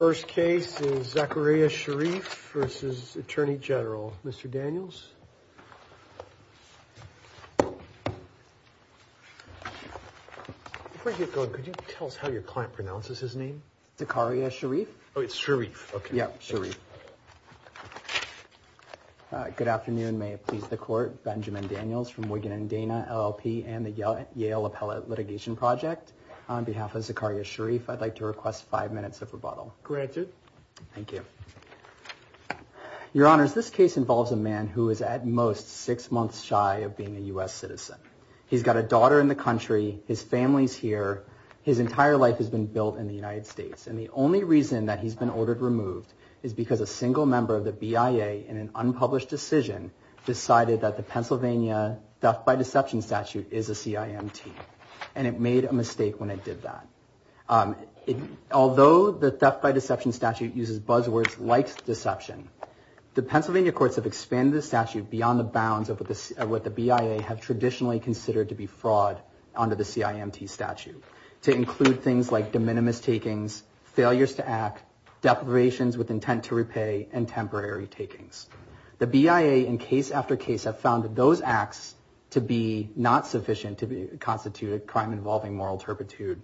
First case is Zachariah Sharif versus Attorney General, Mr. Daniels. Before I get going, could you tell us how your client pronounces his name? Zachariah Sharif. Oh, it's Sharif. Okay. Yeah, Sharif. Good afternoon. May it please the court. Benjamin Daniels from Wigan and Dana LLP and the Yale Appellate Litigation Project. On behalf of Zachariah Sharif, I'd like to request five minutes of rebuttal. Granted. Thank you. Your Honors, this case involves a man who is at most six months shy of being a U.S. citizen. He's got a daughter in the country. His family's here. His entire life has been built in the United States. And the only reason that he's been ordered removed is because a single member of the BIA, in an unpublished decision, decided that the Pennsylvania theft by deception statute is a CIMT. And it made a mistake when it did that. Although the theft by deception statute uses buzzwords like deception, the Pennsylvania courts have expanded the statute beyond the bounds of what the BIA have traditionally considered to be fraud under the CIMT statute to include things like de minimis takings, failures to act, deprivations with intent to repay, and temporary takings. The BIA, in case after case, have found that those acts to be not sufficient to constitute a crime involving moral turpitude.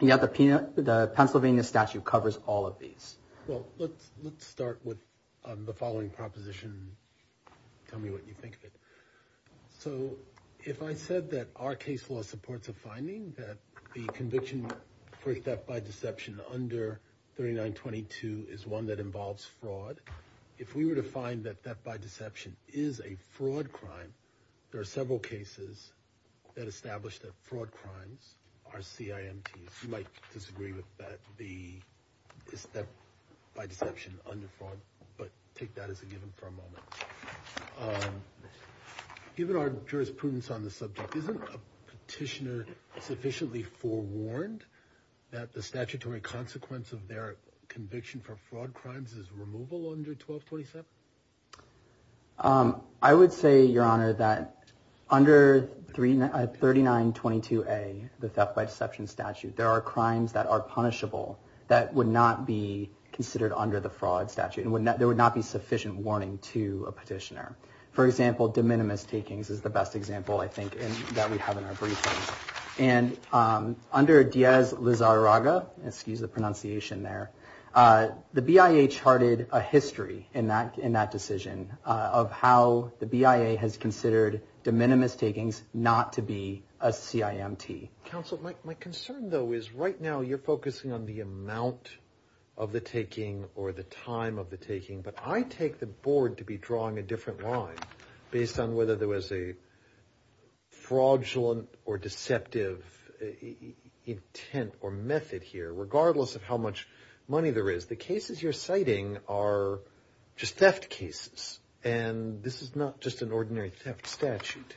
And yet the Pennsylvania statute covers all of these. Well, let's start with the following proposition. Tell me what you think of it. So if I said that our case law supports a finding that the conviction for theft by deception under 3922 is one that involves fraud, if we were to find that theft by deception is a fraud crime, there are several cases that establish that fraud crimes are CIMTs. You might disagree with that, the theft by deception under fraud, but take that as a given for a moment. Given our jurisprudence on the subject, isn't a petitioner sufficiently forewarned that the statutory consequence of their conviction for fraud crimes is removal under 1227? I would say, Your Honor, that under 3922A, the theft by deception statute, there are crimes that are punishable that would not be considered under the fraud statute and there would not be sufficient warning to a petitioner. For example, de minimis takings is the best example, I think, that we have in our briefings. And under Diaz-Lizarraga, excuse the pronunciation there, the BIA charted a history in that decision of how the BIA has considered de minimis takings not to be a CIMT. Counsel, my concern, though, is right now you're focusing on the amount of the taking or the time of the taking, but I take the board to be drawing a different line based on whether there was a fraudulent or deceptive intent or method here, regardless of how much money there is. The cases you're citing are just theft cases and this is not just an ordinary theft statute.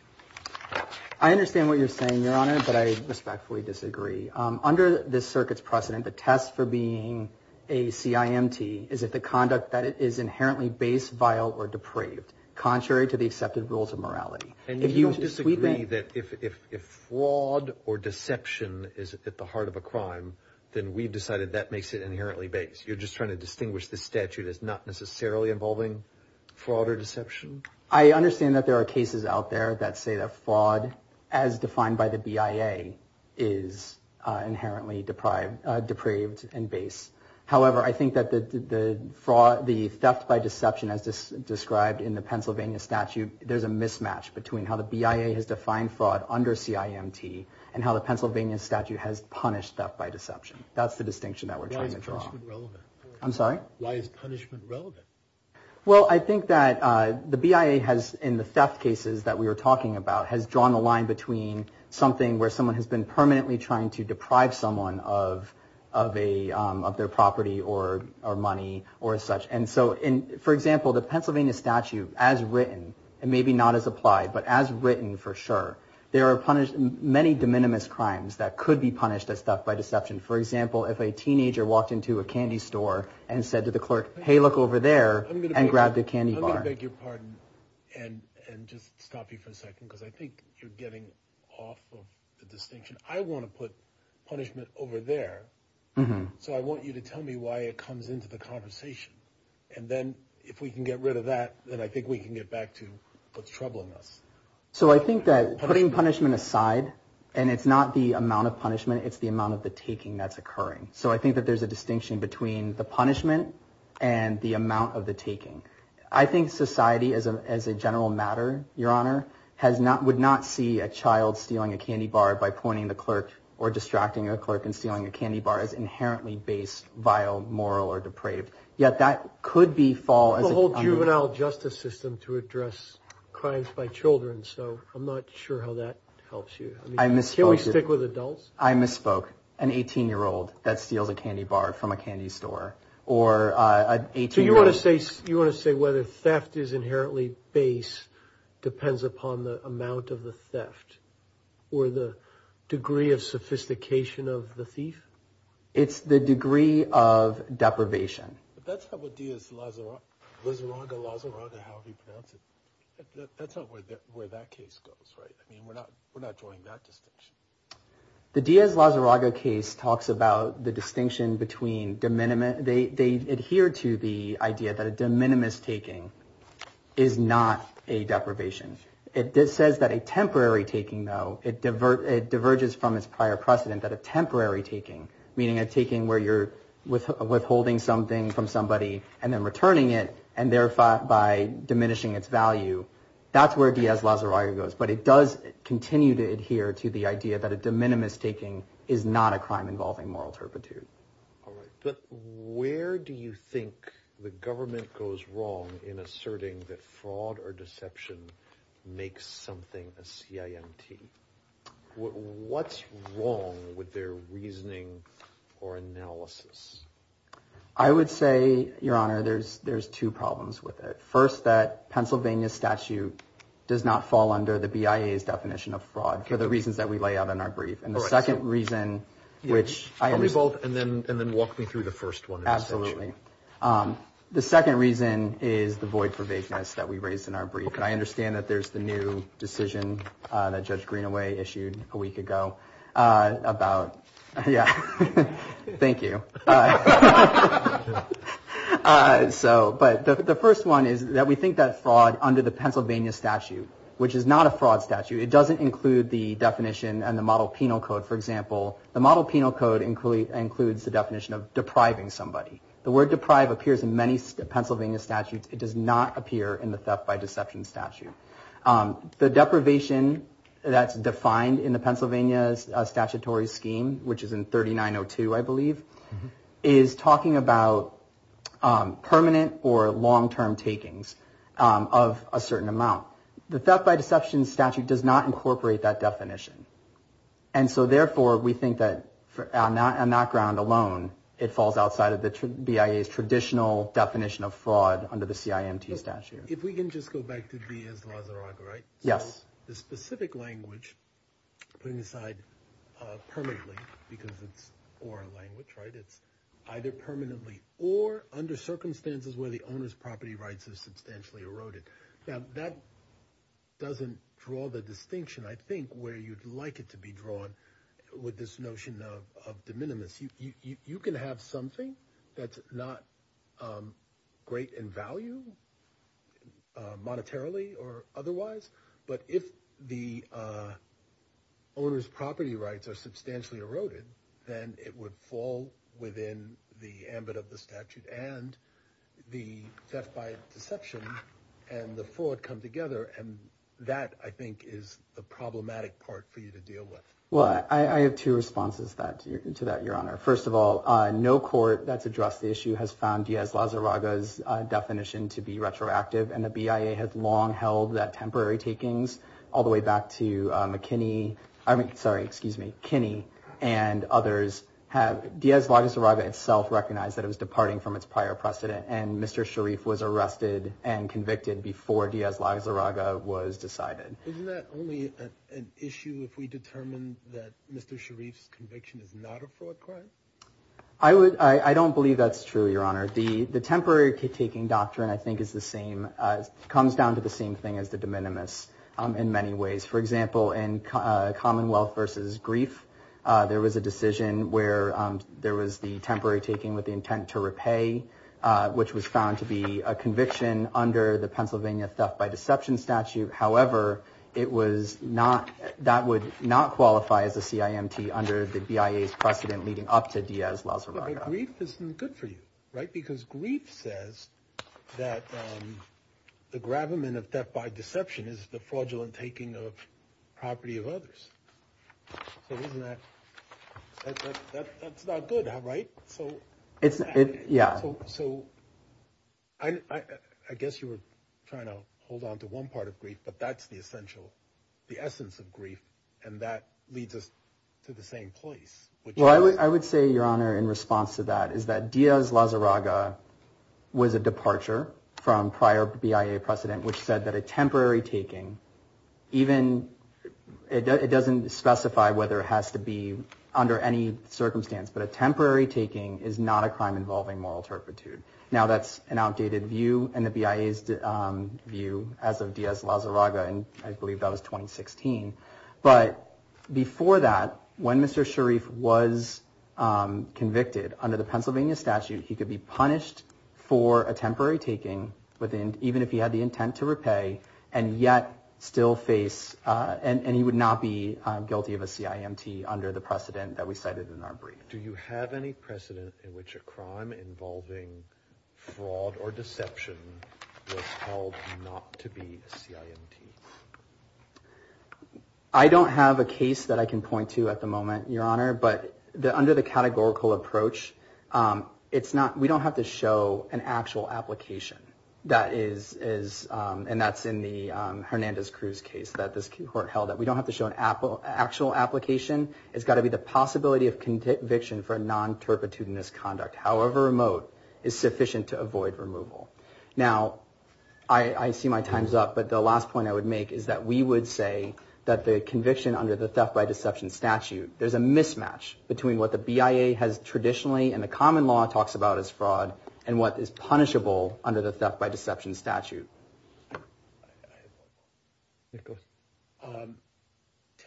I understand what you're saying, Your Honor, but I respectfully disagree. Under this circuit's precedent, the test for being a CIMT is if the conduct that it is inherently base, vile, or depraved, contrary to the accepted rules of morality. And you disagree that if fraud or deception is at the heart of a crime, then we've decided that makes it inherently base. You're just trying to distinguish this statute as not necessarily involving fraud or deception? I understand that there are cases out there that say that fraud, as defined by the BIA, is inherently depraved and base. However, I think that the theft by deception, as described in the Pennsylvania statute, there's a mismatch between how the BIA has defined fraud under CIMT and how the Pennsylvania statute has punished theft by deception. That's the distinction that we're trying to draw. I'm sorry? Why is punishment relevant? Well, I think that the BIA has, in the theft cases that we were talking about, has drawn the line between something where someone has been permanently trying to deprive someone of their property or money or such. And so, for example, the Pennsylvania statute, as written, and maybe not as applied, but as written for sure, there are many de minimis crimes that could be punished as theft by deception. For example, if a teenager walked into a candy store and said to the clerk, hey, look over there, and grabbed a candy bar. Let me beg your pardon and just stop you for a second, because I think you're getting off of the distinction. I want to put punishment over there, so I want you to tell me why it comes into the conversation. And then if we can get rid of that, then I think we can get back to what's troubling us. So I think that putting punishment aside, and it's not the amount of punishment, it's the amount of the taking that's occurring. So I think that there's a distinction between the punishment and the amount of the taking. I think society as a general matter, your honor, would not see a child stealing a candy bar by pointing the clerk or distracting a clerk and stealing a candy bar as inherently based, vile, moral, or depraved. Yet that could be fall as a whole juvenile justice system to address crimes by children. So I'm not sure how that helps you. I misspoke. Can we stick with adults? I misspoke. An 18-year-old that steals a candy bar from a candy store. So you want to say whether theft is inherently base depends upon the amount of the theft or the degree of sophistication of the thief? It's the degree of deprivation. But that's not what Diaz-Lazaranda, how he pronounced it. That's not where that case goes, right? I mean, we're not drawing that distinction. The Diaz-Lazaranda case talks about the distinction between de minimis. They adhere to the idea that a de minimis taking is not a deprivation. It says that a temporary taking, though, it diverges from its prior precedent that a temporary taking, meaning a taking where you're withholding something from somebody and then returning it and thereby diminishing its value. That's where Diaz-Lazaranda goes. But it does continue to adhere to the idea that a de minimis taking is not a crime involving moral turpitude. All right. But where do you think the government goes wrong in asserting that fraud or deception makes something a CIMT? What's wrong with their reasoning or analysis? I would say, Your Honor, there's two problems with it. First, that Pennsylvania statute does not fall under the BIA's definition of fraud for the reasons that we lay out in our brief. And the second reason, which... Are we both? And then walk me through the first one. Absolutely. The second reason is the void for vagueness that we raised in our brief. And I understand that there's the new decision that Judge Greenaway issued a week ago about... Yeah. Thank you. So, but the first one is that we think that fraud under the Pennsylvania statute, which is not a fraud statute. It doesn't include the definition and the model penal code. For example, the model penal code includes the definition of depriving somebody. The word deprive appears in many Pennsylvania statutes. It does not appear in the theft by deception statute. The deprivation that's defined in the Pennsylvania statutory scheme, which is in 3902, I believe, is talking about permanent or long-term takings of a certain amount. The theft by deception statute does not incorporate that definition. And so, therefore, we think that on that ground alone, it falls outside of the BIA's traditional definition of fraud under the CIMT statute. If we can just go back to Diaz-Lazaraga, right? Yes. The specific language, putting aside permanently, because it's oral language, right? Either permanently or under circumstances where the owner's property rights are substantially eroded. Now, that doesn't draw the distinction, I think, where you'd like it to be drawn with this notion of de minimis. You can have something that's not great in value, monetarily or otherwise, but if the ambit of the statute and the theft by deception and the fraud come together, and that, I think, is the problematic part for you to deal with. Well, I have two responses to that, Your Honor. First of all, no court that's addressed the issue has found Diaz-Lazaraga's definition to be retroactive. And the BIA has long held that temporary takings, all the way back to McKinney, I mean, Diaz-Lazaraga itself recognized that it was departing from its prior precedent and Mr. Sharif was arrested and convicted before Diaz-Lazaraga was decided. Isn't that only an issue if we determine that Mr. Sharif's conviction is not a fraud crime? I don't believe that's true, Your Honor. The temporary taking doctrine, I think, is the same, comes down to the same thing as the de minimis in many ways. For example, in Commonwealth versus Grief, there was a decision where there was the temporary taking with the intent to repay, which was found to be a conviction under the Pennsylvania theft by deception statute. However, it was not, that would not qualify as a CIMT under the BIA's precedent leading up to Diaz-Lazaraga. But Grief isn't good for you, right? Because Grief says that the gravamen of theft by deception is the fraudulent taking of property of others. So isn't that, that's not good, right? So it's, yeah, so I guess you were trying to hold on to one part of Grief, but that's the essential, the essence of Grief, and that leads us to the same place. Well, I would say, Your Honor, in response to that, is that Diaz-Lazaraga was a departure from prior BIA precedent, which said that a temporary taking, even, it doesn't specify whether it has to be under any circumstance, but a temporary taking is not a crime involving moral turpitude. Now, that's an outdated view and the BIA's view as of Diaz-Lazaraga, and I believe that was 2016. But before that, when Mr. Sharif was convicted under the Pennsylvania statute, he could be punished for a temporary taking, even if he had the intent to repay, and yet still face, and he would not be guilty of a CIMT under the precedent that we cited in our brief. Do you have any precedent in which a crime involving fraud or deception was held not to be a CIMT? I don't have a case that I can point to at the moment, Your Honor, but under the categorical approach, it's not, we don't have to show an actual application that is, and that's in the Hernandez-Cruz case that this court held, that we don't have to show an actual application. It's got to be the possibility of conviction for a non-turpitudinous conduct, however remote, is sufficient to avoid removal. Now, I see my time's up, but the last point I would make is that we would say that the conviction under the theft by deception statute, there's a mismatch between what the BIA has traditionally, and the common law talks about as fraud, and what is punishable under the theft by deception statute.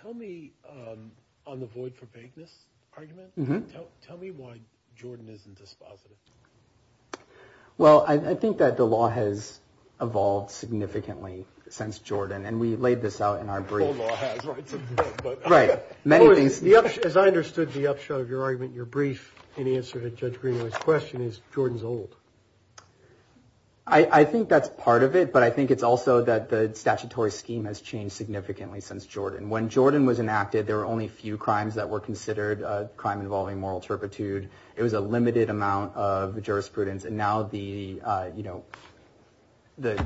Tell me, on the void for vagueness argument, tell me why Jordan isn't dispositive. Well, I think that the law has evolved significantly since Jordan, and we laid this out in our brief. The whole law has, right? Right. Many things. As I understood the upshot of your argument in your brief, in answer to Judge Greenaway's question, is Jordan's old. I think that's part of it, but I think it's also that the statutory scheme has changed significantly since Jordan. When Jordan was enacted, there were only a few crimes that were considered a crime involving moral turpitude. It was a limited amount of jurisprudence, and now the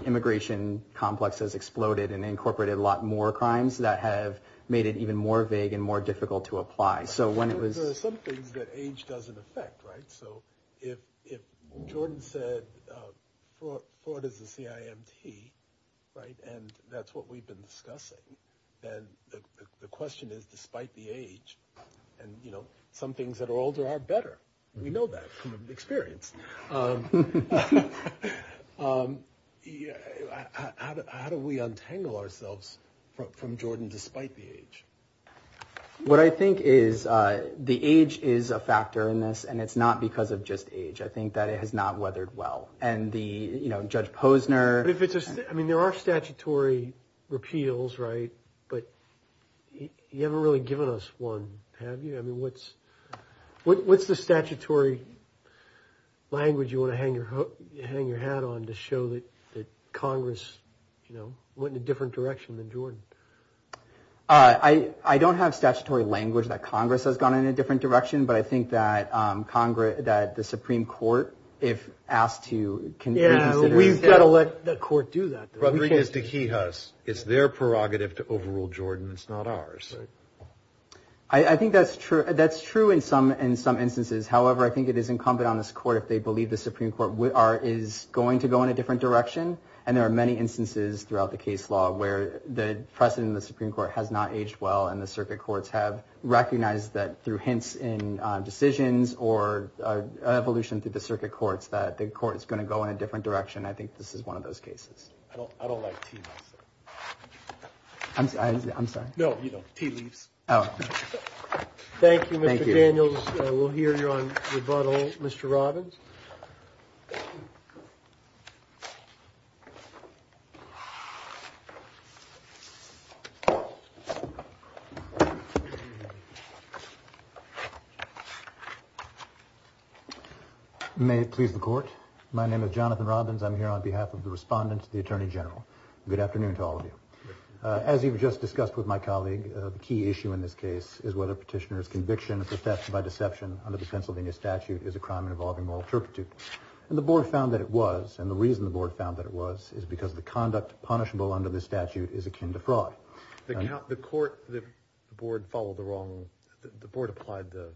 immigration complex has exploded and incorporated a lot more crimes that have made it even more vague and more difficult to apply. There are some things that age doesn't affect, right? So, if Jordan said fraud is a CIMT, and that's what we've been discussing, then the question is, despite the age, and some things that are older are better. We know that from experience. How do we untangle ourselves from Jordan despite the age? What I think is, the age is a factor in this, and it's not because of just age. I think that it has not weathered well, and Judge Posner- I mean, there are statutory repeals, right? But you haven't really given us one, have you? I mean, what's the statutory language you want to hang your hat on to show that Congress went in a different direction than Jordan? I don't have statutory language that Congress has gone in a different direction, but I think that the Supreme Court, if asked to- We've got to let the court do that, though. Rodriguez de Quijas, it's their prerogative to overrule Jordan, it's not ours. I think that's true in some instances. However, I think it is incumbent on this court, if they believe the Supreme Court is going to go in a different direction, and there are many instances throughout the case law where the precedent in the Supreme Court has not aged well, and the circuit courts have recognized that through hints in decisions or evolution through the circuit courts, that the court is going to go in a different direction, and I think this is one of those cases. I don't like tea, myself. I'm sorry? No, tea leaves. Thank you, Mr. Daniels. We'll hear you on rebuttal. Mr. Robbins? May it please the court. My name is Jonathan Robbins. I'm here on behalf of the respondent to the Attorney General. Good afternoon to all of you. As you've just discussed with my colleague, the key issue in this case is whether a petitioner's time involving moral turpitude, and the board found that it was, and the reason the board found that it was, is because the conduct punishable under this statute is akin to fraud. The court, the board followed the wrong, the board applied the,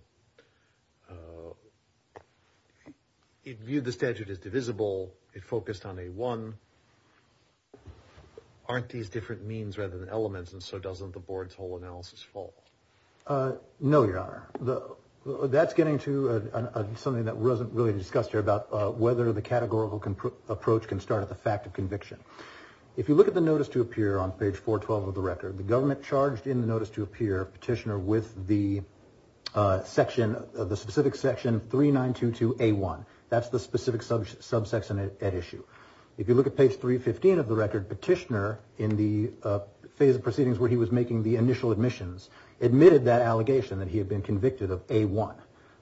it viewed the statute as divisible. It focused on a one. Aren't these different means rather than elements, and so doesn't the board's whole analysis fall? No, Your Honor. That's getting to something that wasn't really discussed here about whether the categorical approach can start at the fact of conviction. If you look at the notice to appear on page 412 of the record, the government charged in the notice to appear petitioner with the section, the specific section 3922A1. That's the specific subsection at issue. If you look at page 315 of the record, petitioner in the phase of proceedings where he was making the initial admissions admitted that allegation that he had been convicted of A1.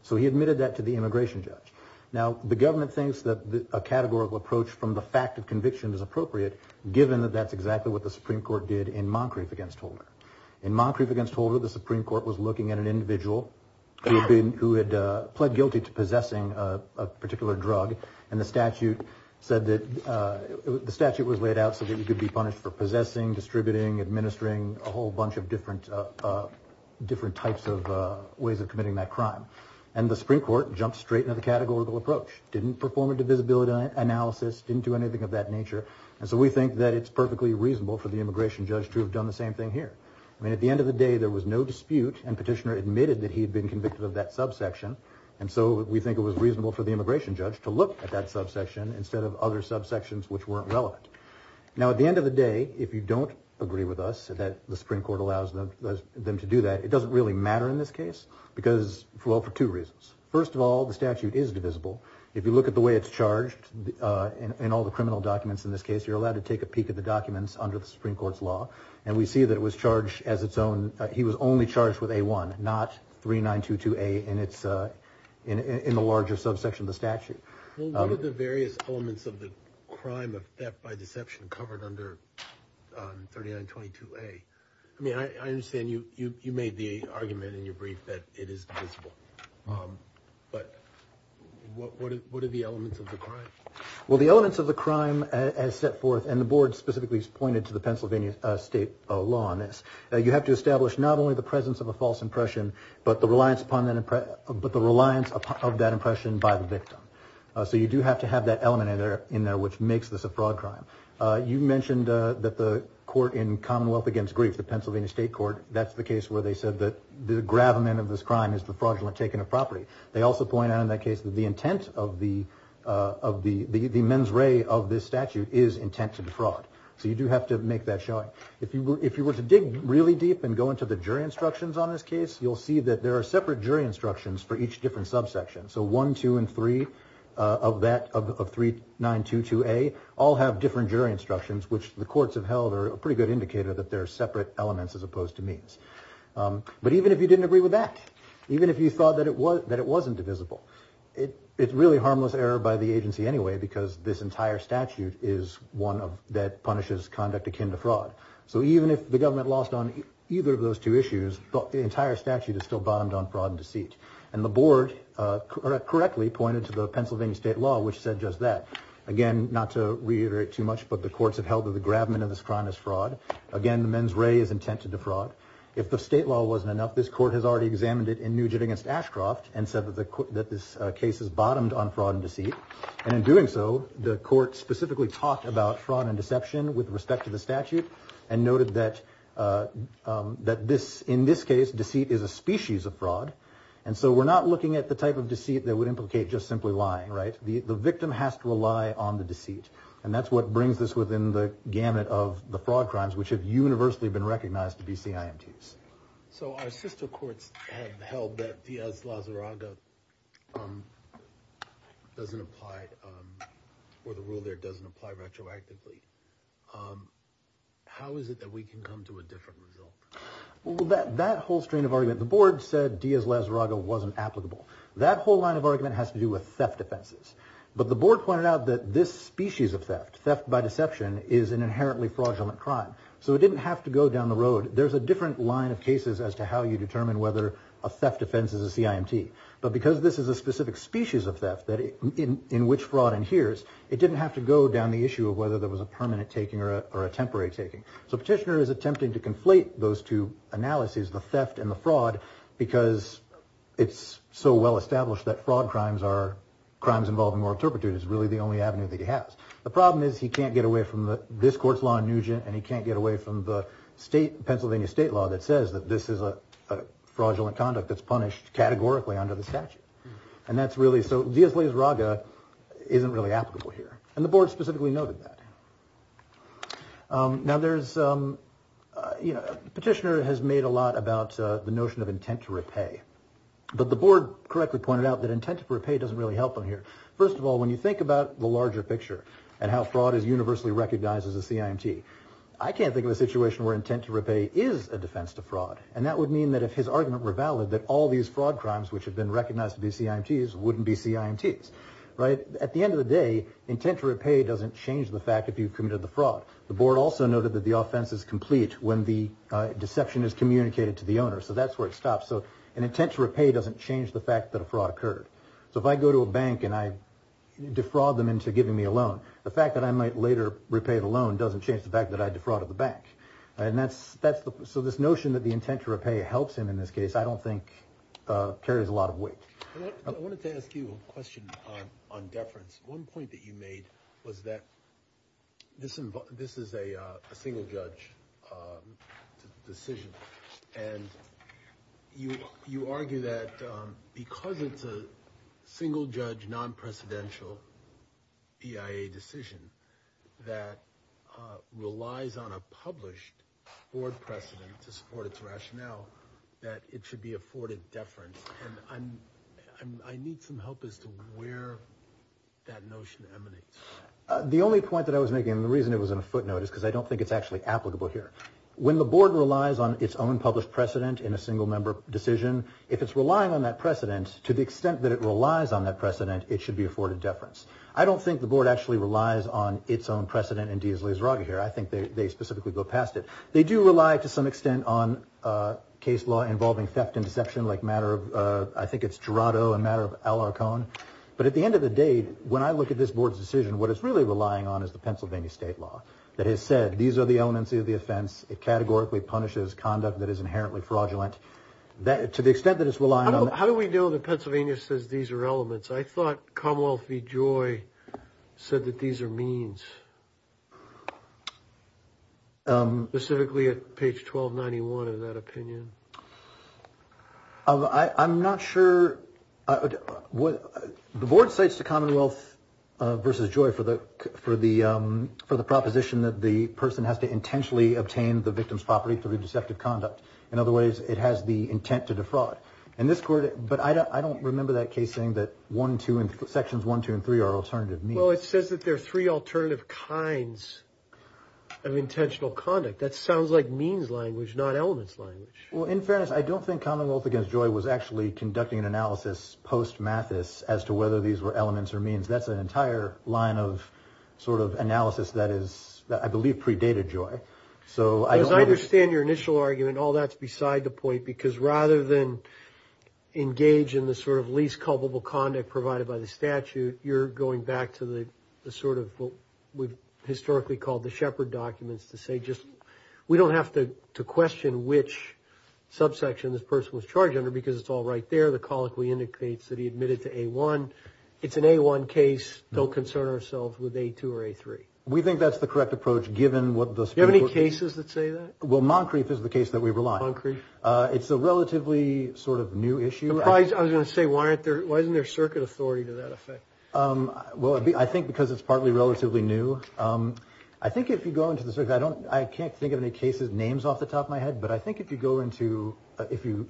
So he admitted that to the immigration judge. Now, the government thinks that a categorical approach from the fact of conviction is appropriate given that that's exactly what the Supreme Court did in Moncrief against Holder. In Moncrief against Holder, the Supreme Court was looking at an individual who had pled guilty to possessing a particular drug, and the statute said that, the statute was laid out so that he could be punished for possessing, distributing, administering a whole bunch of different types of ways of committing that crime. And the Supreme Court jumped straight into the categorical approach, didn't perform a divisibility analysis, didn't do anything of that nature. And so we think that it's perfectly reasonable for the immigration judge to have done the same thing here. I mean, at the end of the day, there was no dispute, and petitioner admitted that he had been convicted of that subsection. And so we think it was reasonable for the immigration judge to look at that subsection instead of other subsections which weren't relevant. Now, at the end of the day, if you don't agree with us that the Supreme Court allows them to do that, it doesn't really matter in this case, because, well, for two reasons. First of all, the statute is divisible. If you look at the way it's charged in all the criminal documents in this case, you're allowed to take a peek at the documents under the Supreme Court's law, and we see that it was charged as its own, he was only charged with A1, not 3922A in the larger subsection of the statute. Well, what are the various elements of the crime of theft by deception covered under 3922A? I mean, I understand you made the argument in your brief that it is divisible, but what are the elements of the crime? Well, the elements of the crime as set forth, and the board specifically has pointed to the Pennsylvania state law on this, you have to establish not only the presence of a false impression, but the reliance of that impression by the victim. So you do have to have that element in there which makes this a fraud crime. You mentioned that the court in Commonwealth Against Grief, the Pennsylvania state court, that's the case where they said that the gravamen of this crime is the fraudulent taking of property. They also point out in that case that the intent of the mens rea of this statute is intent to defraud. So you do have to make that showing. If you were to dig really deep and go into the jury instructions on this case, you'll see that there are separate jury instructions for each different subsection. So 1, 2, and 3 of 3922A all have different jury instructions, which the courts have held are a pretty good indicator that they're separate elements as opposed to mens. But even if you didn't agree with that, even if you thought that it wasn't divisible, it's really harmless error by the agency anyway because this entire statute is one that punishes conduct akin to fraud. So even if the government lost on either of those two issues, the entire statute is still bottomed on fraud and deceit. And the board correctly pointed to the Pennsylvania state law, which said just that. Again, not to reiterate too much, but the courts have held that the gravamen of this crime is fraud. Again, the mens rea is intent to defraud. If the state law wasn't enough, this court has already examined it in Nugent against Ashcroft and said that this case is bottomed on fraud and deceit. And in doing so, the court specifically talked about fraud and deception with respect to the statute and noted that in this case, deceit is a species of fraud. And so we're not looking at the type of deceit that would implicate just simply lying, right? The victim has to rely on the deceit. And that's what brings this within the gamut of the fraud crimes, which have universally been recognized to be CIMTs. So our sister courts have held that Diaz-Lazaraga doesn't apply, or the rule there doesn't apply retroactively. How is it that we can come to a different result? Well, that whole strain of argument, the board said Diaz-Lazaraga wasn't applicable. That whole line of argument has to do with theft offenses. But the board pointed out that this species of theft, theft by deception, is an inherently fraudulent crime. So it didn't have to go down the road. There's a different line of cases as to how you determine whether a theft offense is a CIMT. But because this is a specific species of theft in which fraud adheres, it didn't have to go down the issue of whether there was a permanent taking or a temporary taking. So Petitioner is attempting to conflate those two analyses, the theft and the fraud, because it's so well established that fraud crimes are crimes involving moral turpitude. It's really the only avenue that he has. The problem is he can't get away from this court's law in Nugent, and he can't get away from the Pennsylvania state law that says that this is a fraudulent conduct that's punished categorically under the statute. And that's really so Diaz-Lazaraga isn't really applicable here. And the board specifically noted that. Now, Petitioner has made a lot about the notion of intent to repay. But the board correctly pointed out that intent to repay doesn't really help him here. First of all, when you think about the larger picture and how fraud is universally recognized as a CIMT, I can't think of a situation where intent to repay is a defense to fraud. And that would mean that if his argument were valid, that all these fraud crimes which have been recognized to be CIMTs wouldn't be CIMTs. At the end of the day, intent to repay doesn't change the fact that you've committed the fraud. The board also noted that the offense is complete when the deception is communicated to the owner. So that's where it stops. So an intent to repay doesn't change the fact that a fraud occurred. So if I go to a bank and I defraud them into giving me a loan, the fact that I might later repay the loan doesn't change the fact that I defrauded the bank. So this notion that the intent to repay helps him in this case I don't think carries a lot of weight. I wanted to ask you a question on deference. One point that you made was that this is a single judge decision. And you argue that because it's a single judge, non-precedential BIA decision that relies on a published board precedent to support its rationale that it should be afforded deference. And I need some help as to where that notion emanates. The only point that I was making, and the reason it was in a footnote, is because I don't think it's actually applicable here. When the board relies on its own published precedent in a single member decision, if it's relying on that precedent, to the extent that it relies on that precedent, it should be afforded deference. I don't think the board actually relies on its own precedent in Diaz-Lizarraga here. I think they specifically go past it. They do rely to some extent on case law involving theft and deception like matter of, I think it's Gerardo and matter of Al Arcon. But at the end of the day, when I look at this board's decision, what it's really relying on is the Pennsylvania state law that has said these are the elements of the offense. It categorically punishes conduct that is inherently fraudulent. To the extent that it's relying on that. How do we know that Pennsylvania says these are elements? I thought Commonwealth v. Joy said that these are means, specifically at page 1291 in that opinion. I'm not sure. The board cites the Commonwealth v. Joy for the proposition that the person has to intentionally obtain the victim's property through deceptive conduct. In other words, it has the intent to defraud. But I don't remember that case saying that sections 1, 2, and 3 are alternative means. Well, it says that there are three alternative kinds of intentional conduct. That sounds like means language, not elements language. Well, in fairness, I don't think Commonwealth v. Joy was actually conducting an analysis post-Mathis as to whether these were elements or means. That's an entire line of sort of analysis that is, I believe, predated Joy. As I understand your initial argument, all that's beside the point. Because rather than engage in the sort of least culpable conduct provided by the statute, you're going back to the sort of what we've historically called the shepherd documents to say, just we don't have to question which subsection this person was charged under because it's all right there. The colloquy indicates that he admitted to A1. It's an A1 case. Don't concern ourselves with A2 or A3. We think that's the correct approach, given what the – Do you have any cases that say that? Well, Moncrief is the case that we rely on. Moncrief. It's a relatively sort of new issue. I was going to say, why isn't there circuit authority to that effect? Well, I think because it's partly relatively new. I think if you go into the – I can't think of any cases' names off the top of my head, but I think if you go into – if you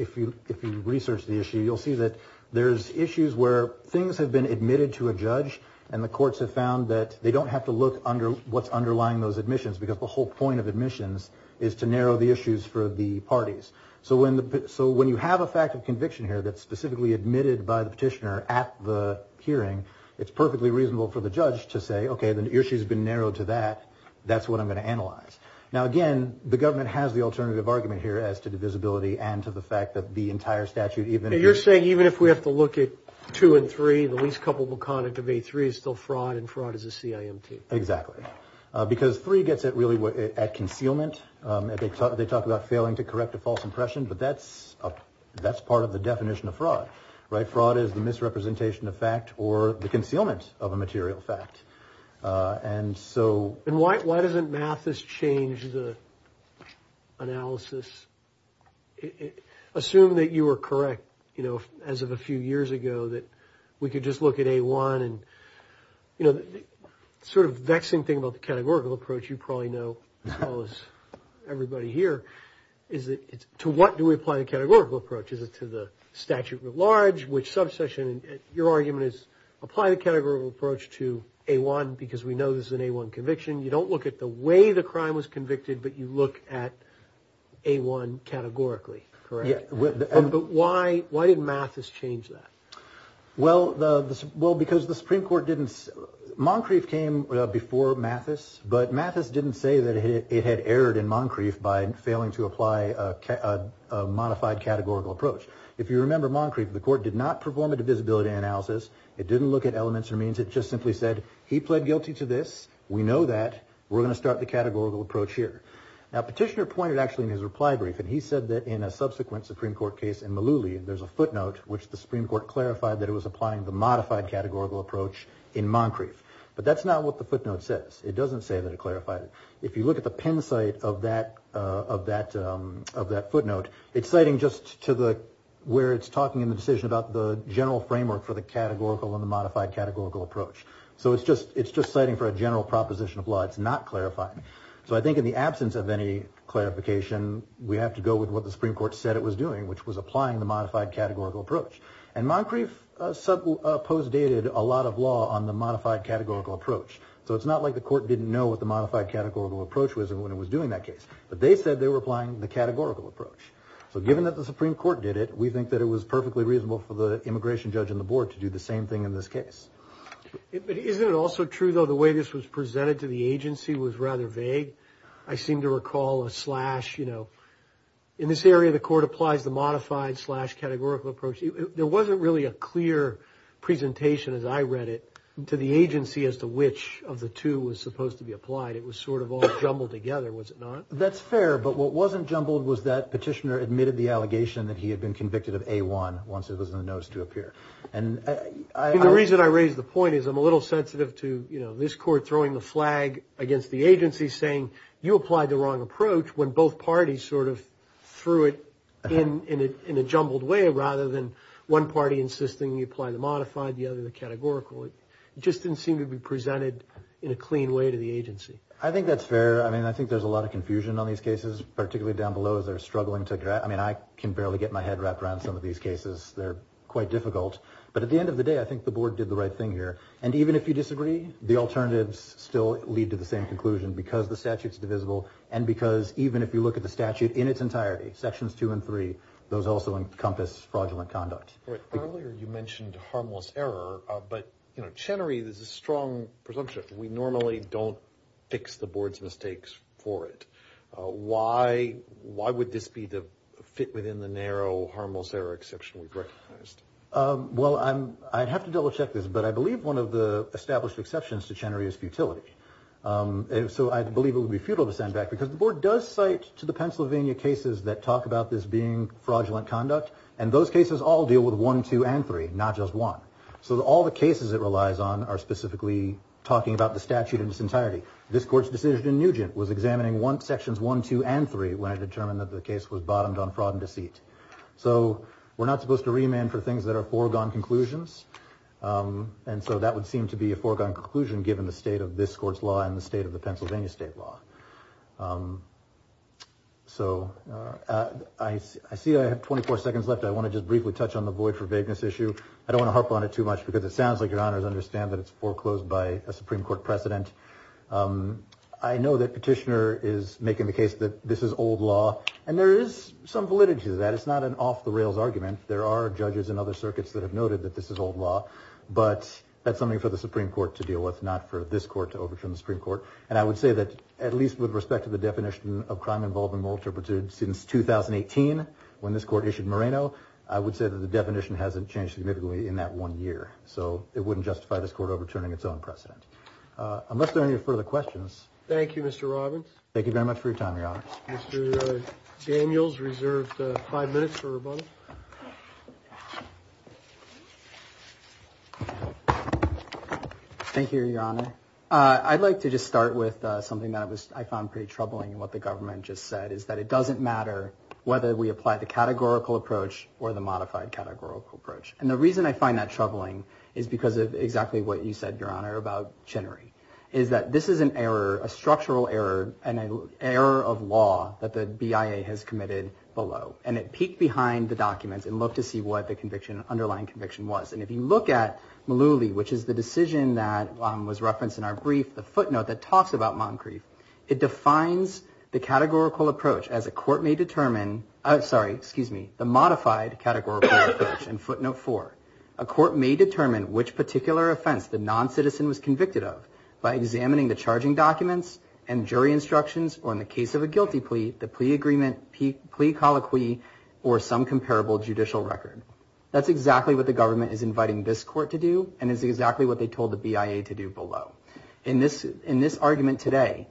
research the issue, you'll see that there's issues where things have been admitted to a judge, and the courts have found that they don't have to look under what's underlying those admissions because the whole point of admissions is to narrow the issues for the parties. So when you have a fact of conviction here that's specifically admitted by the petitioner at the hearing, it's perfectly reasonable for the judge to say, okay, the issue's been narrowed to that. That's what I'm going to analyze. Now, again, the government has the alternative argument here as to divisibility and to the fact that the entire statute even – You're saying even if we have to look at 2 and 3, the least culpable conduct of A3 is still fraud and fraud is a CIMT. Exactly. Because 3 gets it really at concealment. They talk about failing to correct a false impression, but that's part of the definition of fraud, right? Fraud is the misrepresentation of fact or the concealment of a material fact. And so – And why doesn't Mathis change the analysis? Assume that you were correct as of a few years ago that we could just look at A1 and – The sort of vexing thing about the categorical approach you probably know as well as everybody here is to what do we apply the categorical approach? Is it to the statute at large, which subsection? Your argument is apply the categorical approach to A1 because we know this is an A1 conviction. You don't look at the way the crime was convicted, but you look at A1 categorically, correct? Yeah. But why did Mathis change that? Well, because the Supreme Court didn't – Moncrief came before Mathis, but Mathis didn't say that it had erred in Moncrief by failing to apply a modified categorical approach. If you remember Moncrief, the court did not perform a divisibility analysis. It didn't look at elements or means. It just simply said he pled guilty to this. We know that. We're going to start the categorical approach here. Now, Petitioner pointed actually in his reply brief, and he said that in a subsequent Supreme Court case in Malouli, there's a footnote which the Supreme Court clarified that it was applying the modified categorical approach in Moncrief. But that's not what the footnote says. It doesn't say that it clarified it. If you look at the Penn site of that footnote, it's citing just to the – where it's talking in the decision about the general framework for the categorical and the modified categorical approach. So it's just citing for a general proposition of law. It's not clarifying. So I think in the absence of any clarification, we have to go with what the Supreme Court said it was doing, which was applying the modified categorical approach. And Moncrief postdated a lot of law on the modified categorical approach. So it's not like the court didn't know what the modified categorical approach was when it was doing that case. But they said they were applying the categorical approach. So given that the Supreme Court did it, we think that it was perfectly reasonable for the immigration judge and the board to do the same thing in this case. But isn't it also true, though, the way this was presented to the agency was rather vague? I seem to recall a slash, you know. In this area, the court applies the modified slash categorical approach. There wasn't really a clear presentation, as I read it, to the agency as to which of the two was supposed to be applied. It was sort of all jumbled together, was it not? That's fair. But what wasn't jumbled was that petitioner admitted the allegation that he had been convicted of A1 once it was in the notice to appear. And I – And the reason I raise the point is I'm a little sensitive to, you know, this court throwing the flag against the agency saying you applied the wrong approach when both parties sort of threw it in a jumbled way, rather than one party insisting you apply the modified, the other the categorical. It just didn't seem to be presented in a clean way to the agency. I think that's fair. I mean, I think there's a lot of confusion on these cases, particularly down below, as they're struggling to – I mean, I can barely get my head wrapped around some of these cases. They're quite difficult. But at the end of the day, I think the board did the right thing here. And even if you disagree, the alternatives still lead to the same conclusion, because the statute's divisible and because even if you look at the statute in its entirety, sections two and three, those also encompass fraudulent conduct. Earlier you mentioned harmless error. But, you know, Chenery is a strong presumption. We normally don't fix the board's mistakes for it. Why would this be the fit within the narrow harmless error exception we've recognized? Well, I'd have to double-check this. But I believe one of the established exceptions to Chenery is futility. So I believe it would be futile to send back, because the board does cite to the Pennsylvania cases that talk about this being fraudulent conduct, and those cases all deal with one, two, and three, not just one. So all the cases it relies on are specifically talking about the statute in its entirety. This court's decision in Nugent was examining sections one, two, and three when it determined that the case was bottomed on fraud and deceit. So we're not supposed to remand for things that are foregone conclusions. And so that would seem to be a foregone conclusion, given the state of this court's law and the state of the Pennsylvania state law. So I see I have 24 seconds left. I want to just briefly touch on the void for vagueness issue. I don't want to harp on it too much, because it sounds like your honors understand that it's foreclosed by a Supreme Court precedent. I know that Petitioner is making the case that this is old law, and there is some validity to that. It's not an off-the-rails argument. There are judges in other circuits that have noted that this is old law. But that's something for the Supreme Court to deal with, not for this court to overturn the Supreme Court. And I would say that, at least with respect to the definition of crime involved in moral turpitude since 2018, when this court issued Moreno, I would say that the definition hasn't changed significantly in that one year. So it wouldn't justify this court overturning its own precedent. Unless there are any further questions. Thank you, Mr. Robbins. Thank you very much for your time, your honors. Mr. Daniels reserved five minutes for Robbins. Thank you, your honor. I'd like to just start with something that I found pretty troubling in what the government just said, is that it doesn't matter whether we apply the categorical approach or the modified categorical approach. And the reason I find that troubling is because of exactly what you said, your honor, about Chinnery, is that this is an error, a structural error, an error of law that the BIA has committed below. And it peeked behind the documents and looked to see what the underlying conviction was. And if you look at Mullooly, which is the decision that was referenced in our brief, the footnote that talks about Moncrief, it defines the categorical approach as a court may determine, sorry, excuse me, the modified categorical approach in footnote four. A court may determine which particular offense the noncitizen was convicted of by examining the charging documents and jury instructions, or in the case of a guilty plea, the plea agreement, plea colloquy, or some comparable judicial record. That's exactly what the government is inviting this court to do, and it's exactly what they told the BIA to do below. In this argument today,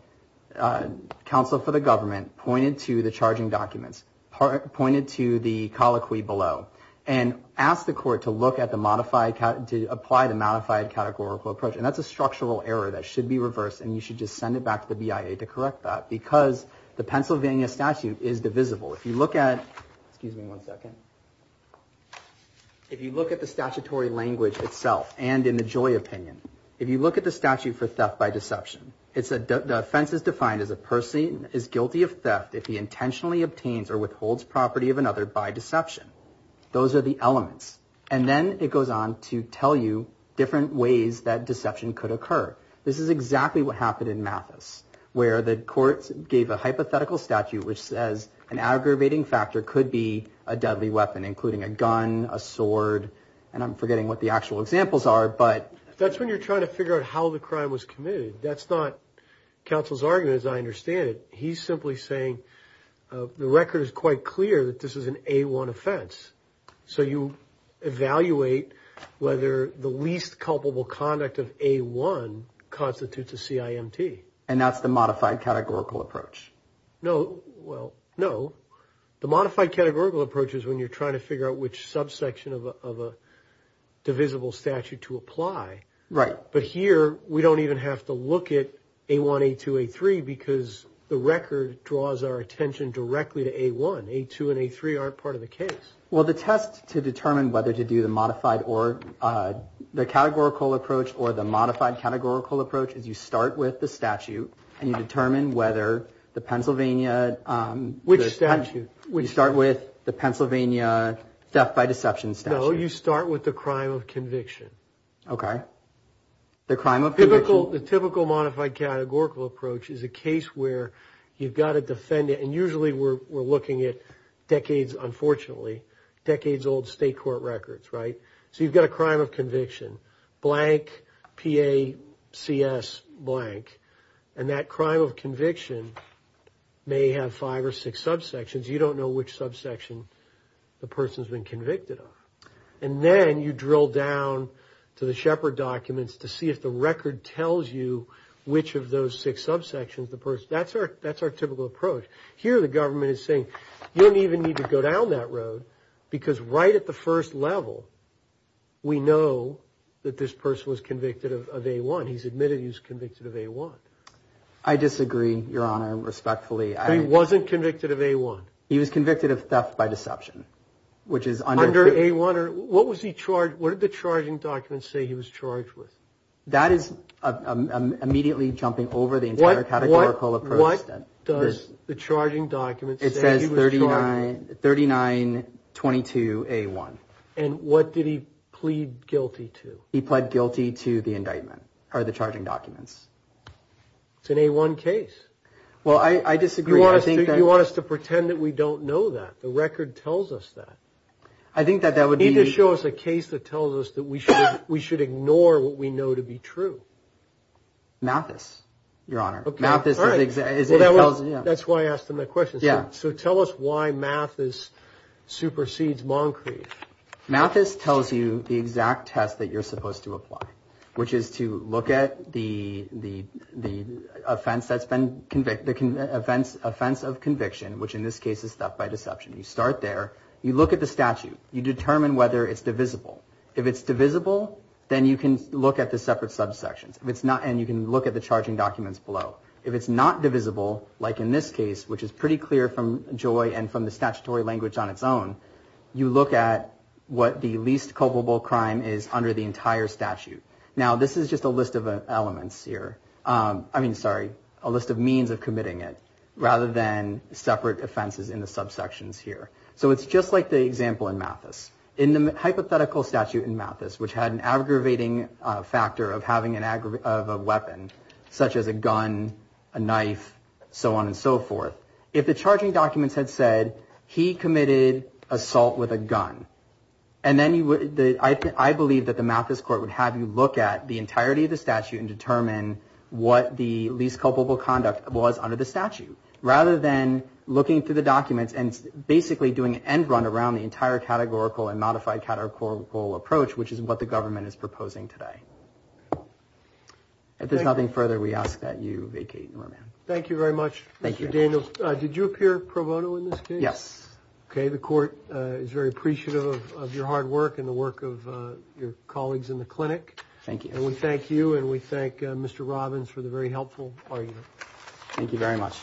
counsel for the government pointed to the charging documents, pointed to the colloquy below, and asked the court to look at the modified, to apply the modified categorical approach. And that's a structural error that should be reversed, and you should just send it back to the BIA to correct that, because the Pennsylvania statute is divisible. If you look at, excuse me one second, if you look at the statutory language itself, and in the Joy opinion, if you look at the statute for theft by deception, the offense is defined as a person is guilty of theft if he intentionally obtains or withholds property of another by deception. Those are the elements. And then it goes on to tell you different ways that deception could occur. This is exactly what happened in Mathis, where the courts gave a hypothetical statute which says an aggravating factor could be a deadly weapon, including a gun, a sword, and I'm forgetting what the actual examples are, but... That's when you're trying to figure out how the crime was committed. That's not counsel's argument, as I understand it. He's simply saying the record is quite clear that this is an A-1 offense. So you evaluate whether the least culpable conduct of A-1 constitutes a CIMT. And that's the modified categorical approach. No, well, no. The modified categorical approach is when you're trying to figure out which subsection of a divisible statute to apply. Right. But here, we don't even have to look at A-1, A-2, A-3 because the record draws our attention directly to A-1. A-2 and A-3 aren't part of the case. Well, the test to determine whether to do the categorical approach or the modified categorical approach is you start with the statute and you determine whether the Pennsylvania... Which statute? You start with the Pennsylvania theft by deception statute. No, you start with the crime of conviction. Okay. The crime of conviction... The typical modified categorical approach is a case where you've got a defendant, and usually we're looking at decades, unfortunately, decades-old state court records, right? So you've got a crime of conviction, blank, P-A-C-S, blank. And that crime of conviction may have five or six subsections. You don't know which subsection the person's been convicted of. And then you drill down to the Shepard documents to see if the record tells you which of those six subsections the person... That's our typical approach. Here, the government is saying, you don't even need to go down that road because right at the first level, we know that this person was convicted of A-1. He's admitted he was convicted of A-1. I disagree, Your Honor, respectfully. He wasn't convicted of A-1. He was convicted of theft by deception, which is under... Your Honor, what did the charging documents say he was charged with? That is immediately jumping over the entire categorical approach. What does the charging documents say he was charged with? It says 3922A1. And what did he plead guilty to? He pled guilty to the indictment, or the charging documents. It's an A-1 case. Well, I disagree. You want us to pretend that we don't know that. The record tells us that. I think that that would be... You need to show us a case that tells us that we should ignore what we know to be true. Mathis, Your Honor. Okay, all right. That's why I asked him that question. So tell us why Mathis supersedes Moncrief. Mathis tells you the exact test that you're supposed to apply, which is to look at the offense of conviction, which in this case is theft by deception. You start there. You look at the statute. You determine whether it's divisible. If it's divisible, then you can look at the separate subsections, and you can look at the charging documents below. If it's not divisible, like in this case, which is pretty clear from Joy and from the statutory language on its own, you look at what the least culpable crime is under the entire statute. Now, this is just a list of elements here. I mean, sorry, a list of means of committing it, rather than separate offenses in the subsections here. So it's just like the example in Mathis. In the hypothetical statute in Mathis, which had an aggravating factor of having a weapon, such as a gun, a knife, so on and so forth, if the charging documents had said, he committed assault with a gun, I believe that the Mathis court would have you look at the entirety of the statute and determine what the least culpable conduct was under the statute, rather than looking through the documents and basically doing an end run around the entire categorical and modified categorical approach, which is what the government is proposing today. If there's nothing further, we ask that you vacate your room. Thank you very much. Thank you, Daniel. Did you appear pro bono in this case? Yes. Okay. The court is very appreciative of your hard work and the work of your colleagues in the clinic. Thank you. And we thank you and we thank Mr. Robbins for the very helpful argument. Thank you very much.